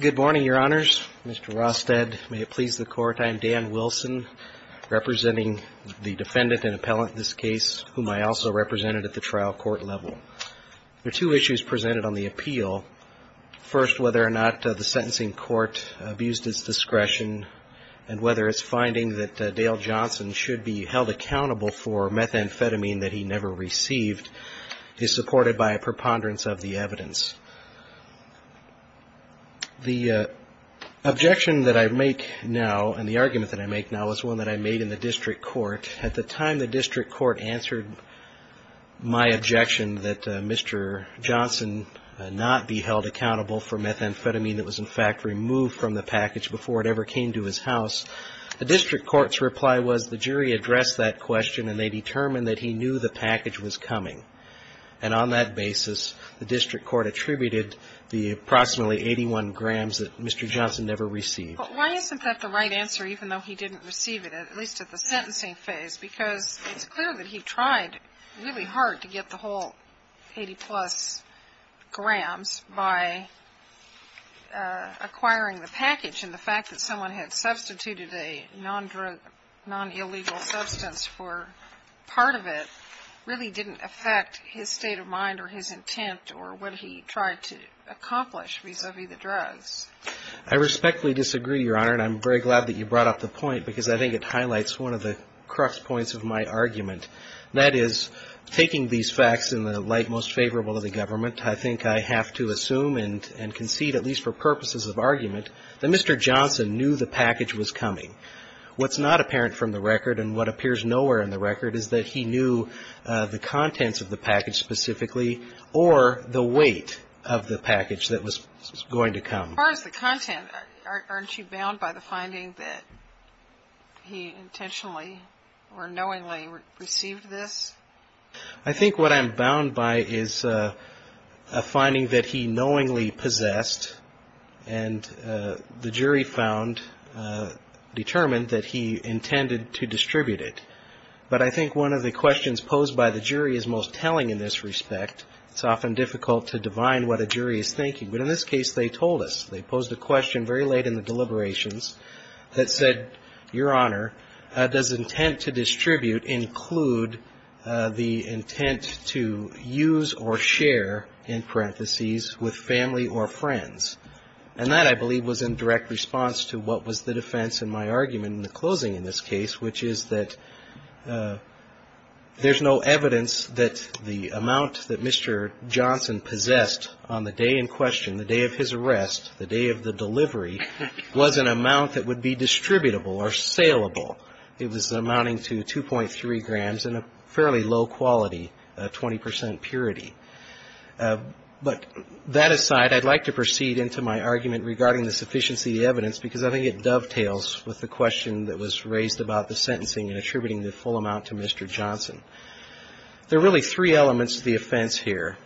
Good morning, Your Honors. Mr. Rosted, may it please the Court, I am Dan Wilson, representing the defendant and appellant in this case, whom I also represented at the trial court level. There are two issues presented on the appeal. First, whether or not the sentencing court abused its discretion, and whether its finding that Dale Johnson should be held accountable for methamphetamine that he never received, is supported by a preponderance of the evidence. The objection that I make now, and the argument that I make now, is one that I made in the district court. At the time the district court answered my objection that Mr. Johnson not be held accountable for methamphetamine that was, in fact, removed from the package before it ever came to his house, the district court's reply was the jury addressed that question, and they determined that he knew the package was coming. And on that basis, the district court attributed the approximately 81 grams that Mr. Johnson never received. But why isn't that the right answer, even though he didn't receive it, at least at the 80-plus grams by acquiring the package? And the fact that someone had substituted a non-drug, non-illegal substance for part of it really didn't affect his state of mind or his intent or what he tried to accomplish vis-a-vis the drugs. I respectfully disagree, Your Honor, and I'm very glad that you brought up the point, because I think it highlights one of the crux points of my argument. That is, taking these facts in the light most favorable of the government, I think I have to assume and concede, at least for purposes of argument, that Mr. Johnson knew the package was coming. What's not apparent from the record and what appears nowhere in the record is that he knew the contents of the package specifically or the weight of the package that was going to come. As far as the content, aren't you bound by the finding that he intentionally or knowingly received this? I think what I'm bound by is a finding that he knowingly possessed and the jury found, determined that he intended to distribute it. But I think one of the questions posed by the jury is most telling in this respect. It's often difficult to divine what a jury is thinking. But in this case, they told us. They posed a question very late in the deliberations that said, Your Honor, does intent to distribute include the intent to use or share, in parentheses, with family or friends? And that, I believe, was in direct response to what was the defense in my argument in the closing in this case, which is that there's no evidence that the amount that Mr. Johnson possessed on the day in question, the day of his arrest, the day of his arrest, was the amount that would be distributable or saleable. It was amounting to 2.3 grams and a fairly low quality, 20% purity. But that aside, I'd like to proceed into my argument regarding the sufficiency of the evidence because I think it dovetails with the question that was raised about the sentencing and attributing the full amount to Mr. Johnson. There are really three elements to the offense here.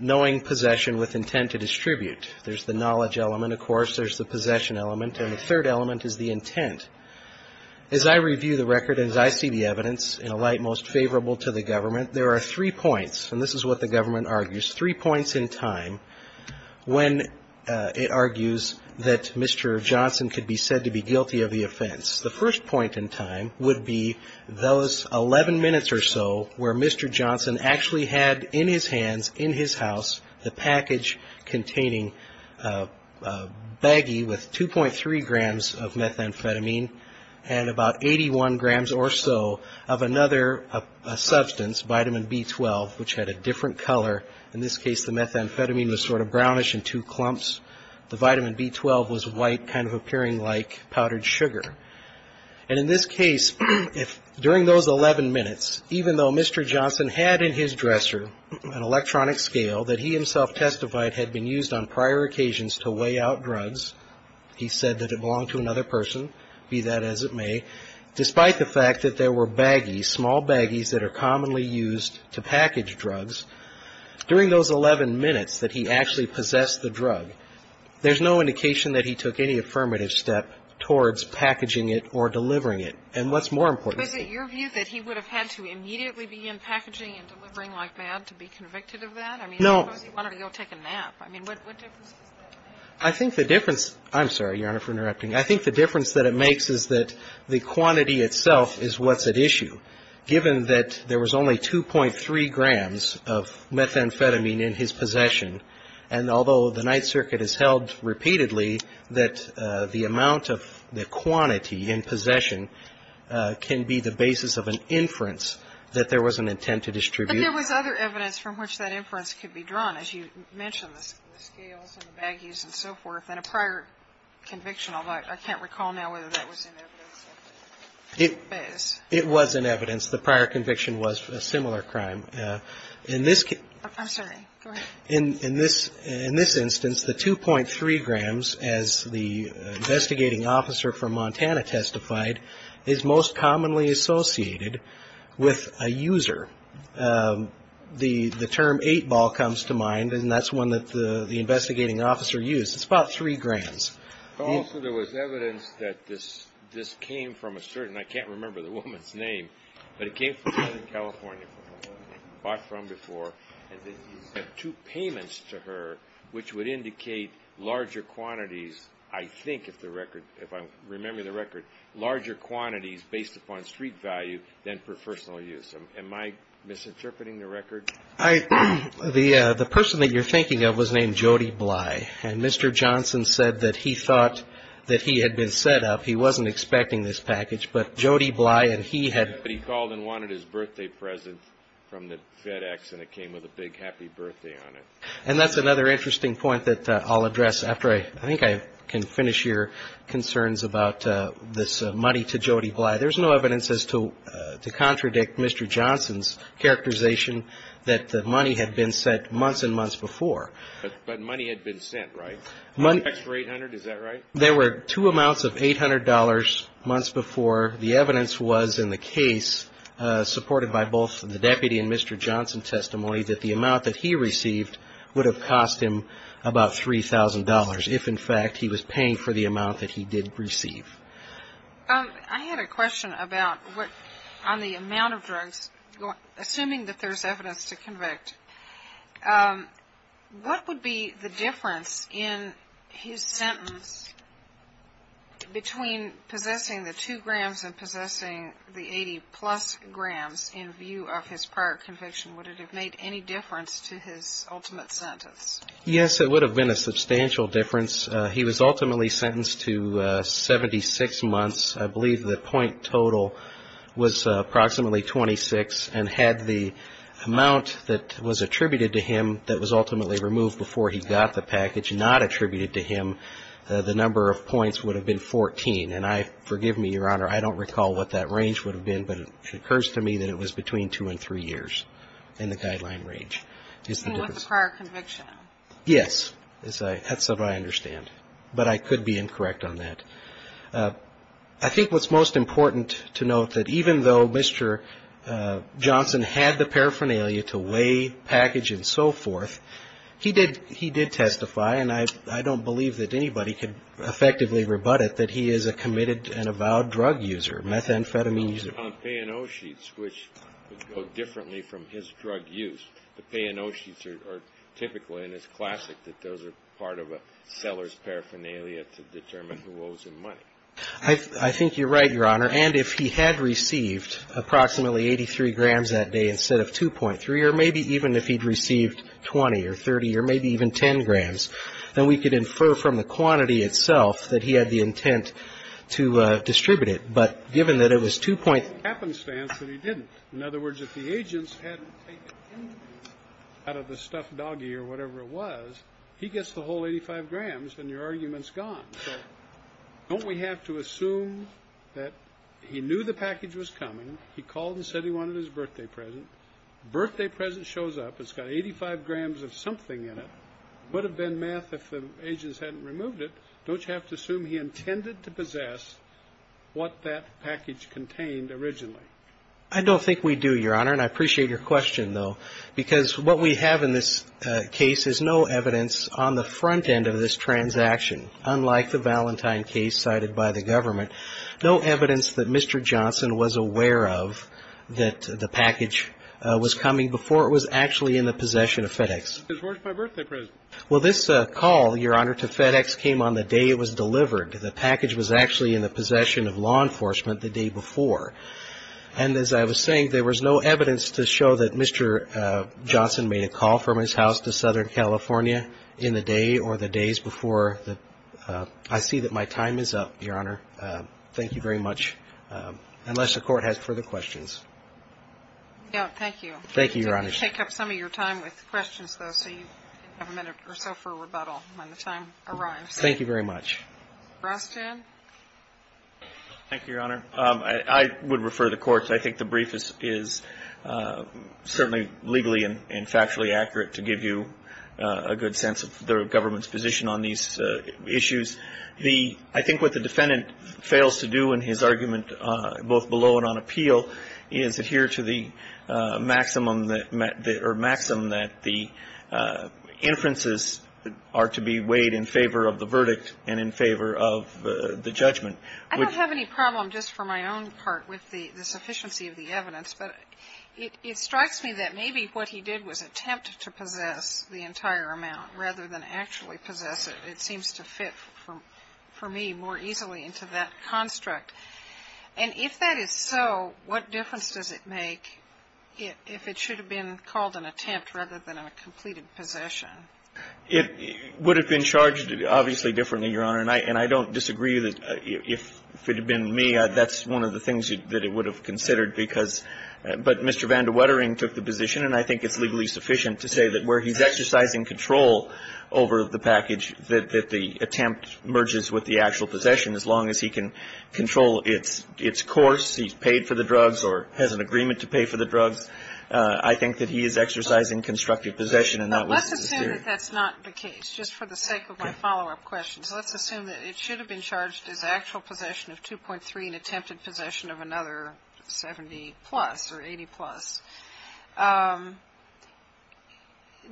Knowing possession with intent to distribute. There's the knowledge element. Of course, there's the possession element. And the third element is the intent. As I review the record, as I see the evidence, in a light most favorable to the government, there are three points. And this is what the government argues. Three points in time when it argues that Mr. Johnson could be said to be guilty of the offense. The first point in time would be those 11 minutes or so where Mr. Johnson actually had in his hands, in his house, the package containing a baggie with 2.3 grams of methamphetamine and about 81 grams or so of another substance, vitamin B12, which had a different color. In this case, the methamphetamine was sort of brownish in two clumps. The vitamin B12 was white, kind of appearing like powdered sugar. And in this case, during those 11 minutes, even though Mr. Johnson had in his dresser an electronic scale that he himself testified had been used on prior occasions to weigh out drugs, he said that it belonged to another person, be that as it may, despite the fact that there were baggies, small baggies that are commonly used to package drugs, during those 11 minutes that he actually possessed the drug, there's no indication that he took any affirmative step towards packaging it or delivering it. And what's more important to me to say is that he had a baggie. And he immediately began packaging and delivering like mad to be convicted of that? I mean, suppose he wanted to go take a nap. I mean, what difference does that make? I think the difference – I'm sorry, Your Honor, for interrupting. I think the difference that it makes is that the quantity itself is what's at issue, given that there was only 2.3 grams of methamphetamine in his possession. And although the Ninth Circuit has held repeatedly that the amount of the quantity in possession can be the basis of an inference that there was an intent to distribute. But there was other evidence from which that inference could be drawn, as you mentioned, the scales and the baggies and so forth, and a prior conviction, although I can't recall now whether that was in evidence or not. It was in evidence. The prior conviction was a similar crime. In this case – I'm sorry. Go ahead. In this instance, the 2.3 grams, as the investigating officer from Montana testified, is most commonly associated with a user. The term 8-ball comes to mind, and that's one that the investigating officer used. It's about 3 grams. Also, there was evidence that this came from a certain – I can't remember the woman's name – but it came from a woman in California, bought from before, and he sent two payments to her, which would indicate larger quantities, I think, if I remember the record, larger discrete value than for personal use. Am I misinterpreting the record? The person that you're thinking of was named Jody Bly, and Mr. Johnson said that he thought that he had been set up. He wasn't expecting this package, but Jody Bly and he had – But he called and wanted his birthday present from the FedEx, and it came with a big happy birthday on it. And that's another interesting point that I'll address after I – I think I can finish your concerns about this money to Jody Bly. There's no evidence as to – to contradict Mr. Johnson's characterization that the money had been sent months and months before. But money had been sent, right? Extra 800, is that right? There were two amounts of $800 months before. The evidence was, in the case supported by both the deputy and Mr. Johnson testimony, that the amount that he received would have paid for the amount that he did receive. I had a question about what – on the amount of drugs. Assuming that there's evidence to convict, what would be the difference in his sentence between possessing the two grams and possessing the 80-plus grams in view of his prior conviction? Would it have made any difference to his ultimate sentence? Yes, it would have been a substantial difference. He was ultimately sentenced to 76 months. I believe the point total was approximately 26, and had the amount that was attributed to him that was ultimately removed before he got the package not attributed to him, the number of points would have been 14. And I – forgive me, Your Honor, I don't recall what that range would have been, but it occurs to me that it was between two and three years in the guideline range. With the prior conviction. Yes, that's what I understand. But I could be incorrect on that. I think what's most important to note that even though Mr. Johnson had the paraphernalia to weigh, package and so forth, he did testify, and I don't believe that anybody could effectively rebut it, that he is a committed and avowed drug user, methamphetamine user. On pay and owe sheets, which would go differently from his drug use, the pay and owe sheets are typically, and it's classic, that those are part of a seller's paraphernalia to determine who owes him money. I think you're right, Your Honor. And if he had received approximately 83 grams that day instead of 2.3, or maybe even if he'd received 20 or 30 or maybe even 10 grams, then we could infer from the quantity itself that he had the intent to distribute it. But given that it was 2.3. It's a coincidence that he didn't. In other words, if the agents hadn't taken anything out of the stuffed doggie or whatever it was, he gets the whole 85 grams and your argument's gone. So don't we have to assume that he knew the package was coming, he called and said he wanted his birthday present. The birthday present shows up, it's got 85 grams of something in it. It would have been math if the agents hadn't removed it. Don't you have to assume he intended to possess what that package was? I don't think we do, Your Honor, and I appreciate your question, though, because what we have in this case is no evidence on the front end of this transaction, unlike the Valentine case cited by the government, no evidence that Mr. Johnson was aware of that the package was coming before it was actually in the possession of FedEx. It was worth my birthday present. Well, this call, Your Honor, to FedEx came on the day it was delivered. The package was actually in the possession of law enforcement the day before, and as I was saying, there was no evidence to show that Mr. Johnson made a call from his house to Southern California in the day or the days before. I see that my time is up, Your Honor. Thank you very much, unless the Court has further questions. No, thank you. Thank you, Your Honor. We'll take up some of your time with questions, though, so you have a minute or so for rebuttal when the time arrives. Thank you very much. Rostran. Thank you, Your Honor. I would refer the Court. I think the brief is certainly legally and factually accurate to give you a good sense of the government's position on these issues. The – I think what the defendant fails to do in his argument, both below and on appeal, is adhere to the maximum that – or maxim that the inferences are to be weighed in favor of the verdict and in favor of the judgment. I don't have any problem just for my own part with the sufficiency of the evidence, but it strikes me that maybe what he did was attempt to possess the entire amount rather than actually possess it. It seems to fit, for me, more easily into that construct. And if that is so, what difference does it make if it should have been called an attempt rather than a completed possession? It would have been charged, obviously, differently, Your Honor. And I don't disagree that if it had been me, that's one of the things that it would have considered because – but Mr. Van de Wettering took the position, and I think it's legally sufficient to say that where he's exercising control over the package, that the attempt merges with the actual possession as long as he can control its course, he's paid for the drugs or has an agreement to pay for the drugs. I think that he is exercising constructive possession and not wasting his period. Let's assume that that's not the case, just for the sake of my follow-up question. So let's assume that it should have been charged as actual possession of 2.3 and attempted possession of another 70 plus or 80 plus.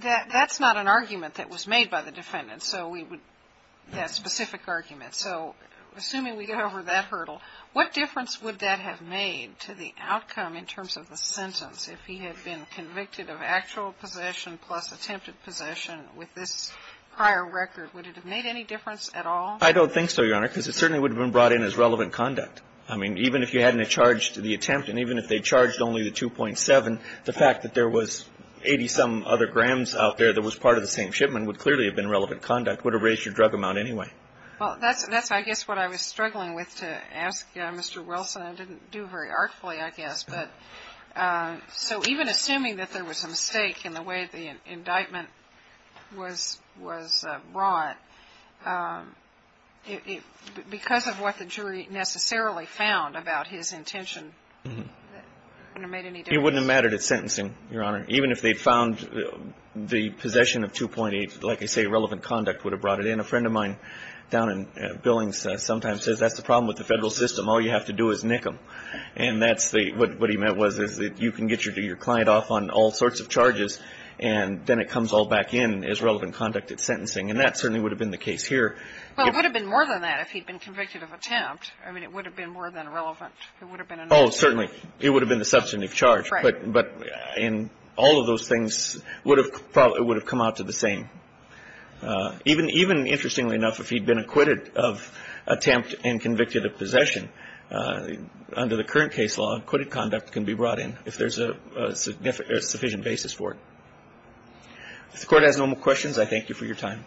That's not an argument that was made by the defendant, so we would – that specific argument. So assuming we get over that hurdle, what difference would that have made to the defense if he had been convicted of actual possession plus attempted possession with this prior record? Would it have made any difference at all? I don't think so, Your Honor, because it certainly would have been brought in as relevant conduct. I mean, even if you hadn't charged the attempt, and even if they charged only the 2.7, the fact that there was 80-some other grams out there that was part of the same shipment would clearly have been relevant conduct, would have raised your drug amount anyway. Well, that's, I guess, what I was struggling with to ask Mr. Wilson. I didn't do very darkly, I guess. But so even assuming that there was a mistake in the way the indictment was brought, because of what the jury necessarily found about his intention, would it have made any difference? It wouldn't have mattered at sentencing, Your Honor. Even if they found the possession of 2.8, like I say, relevant conduct would have brought it in. A friend of mine down in Billings sometimes says that's the problem with the Federal system. All you have to do is nick them. And that's the, what he meant was that you can get your client off on all sorts of charges, and then it comes all back in as relevant conduct at sentencing. And that certainly would have been the case here. Well, it would have been more than that if he'd been convicted of attempt. I mean, it would have been more than relevant. It would have been another thing. Oh, certainly. It would have been the substantive charge. Right. But in all of those things, it would have come out to the same. Even interestingly enough, if he'd been acquitted of attempt and convicted of possession, under the current case law, acquitted conduct can be brought in if there's a sufficient basis for it. If the Court has no more questions, I thank you for your time.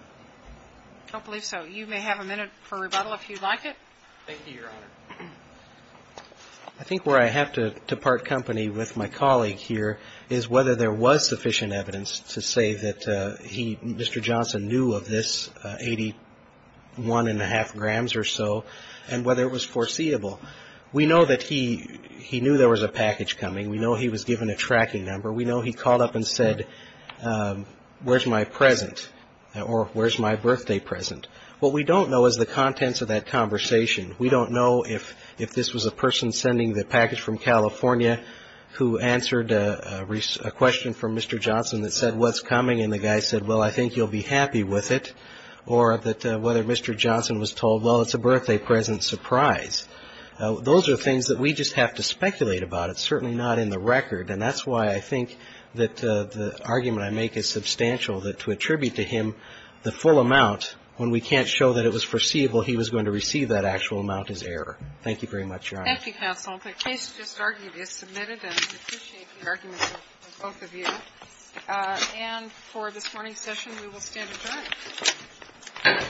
I don't believe so. You may have a minute for rebuttal if you'd like it. Thank you, Your Honor. I think where I have to part company with my colleague here is whether there was sufficient evidence to say that he, Mr. Johnson, knew of this 81 1⁄2 grams or so, and whether it was foreseeable. We know that he knew there was a package coming. We know he was given a tracking number. We know he called up and said, where's my present? Or where's my birthday present? What we don't know is the contents of that conversation. We don't know if this was a question from Mr. Johnson that said, what's coming? And the guy said, well, I think you'll be happy with it. Or that whether Mr. Johnson was told, well, it's a birthday present surprise. Those are things that we just have to speculate about. It's certainly not in the record. And that's why I think that the argument I make is substantial, that to attribute to him the full amount when we can't show that it was foreseeable, he was going to receive that actual amount as error. Thank you very much, Your Honor. Thank you, counsel. The case just argued is submitted, and we appreciate the arguments of both of you. And for this morning's session, we will stand adjourned.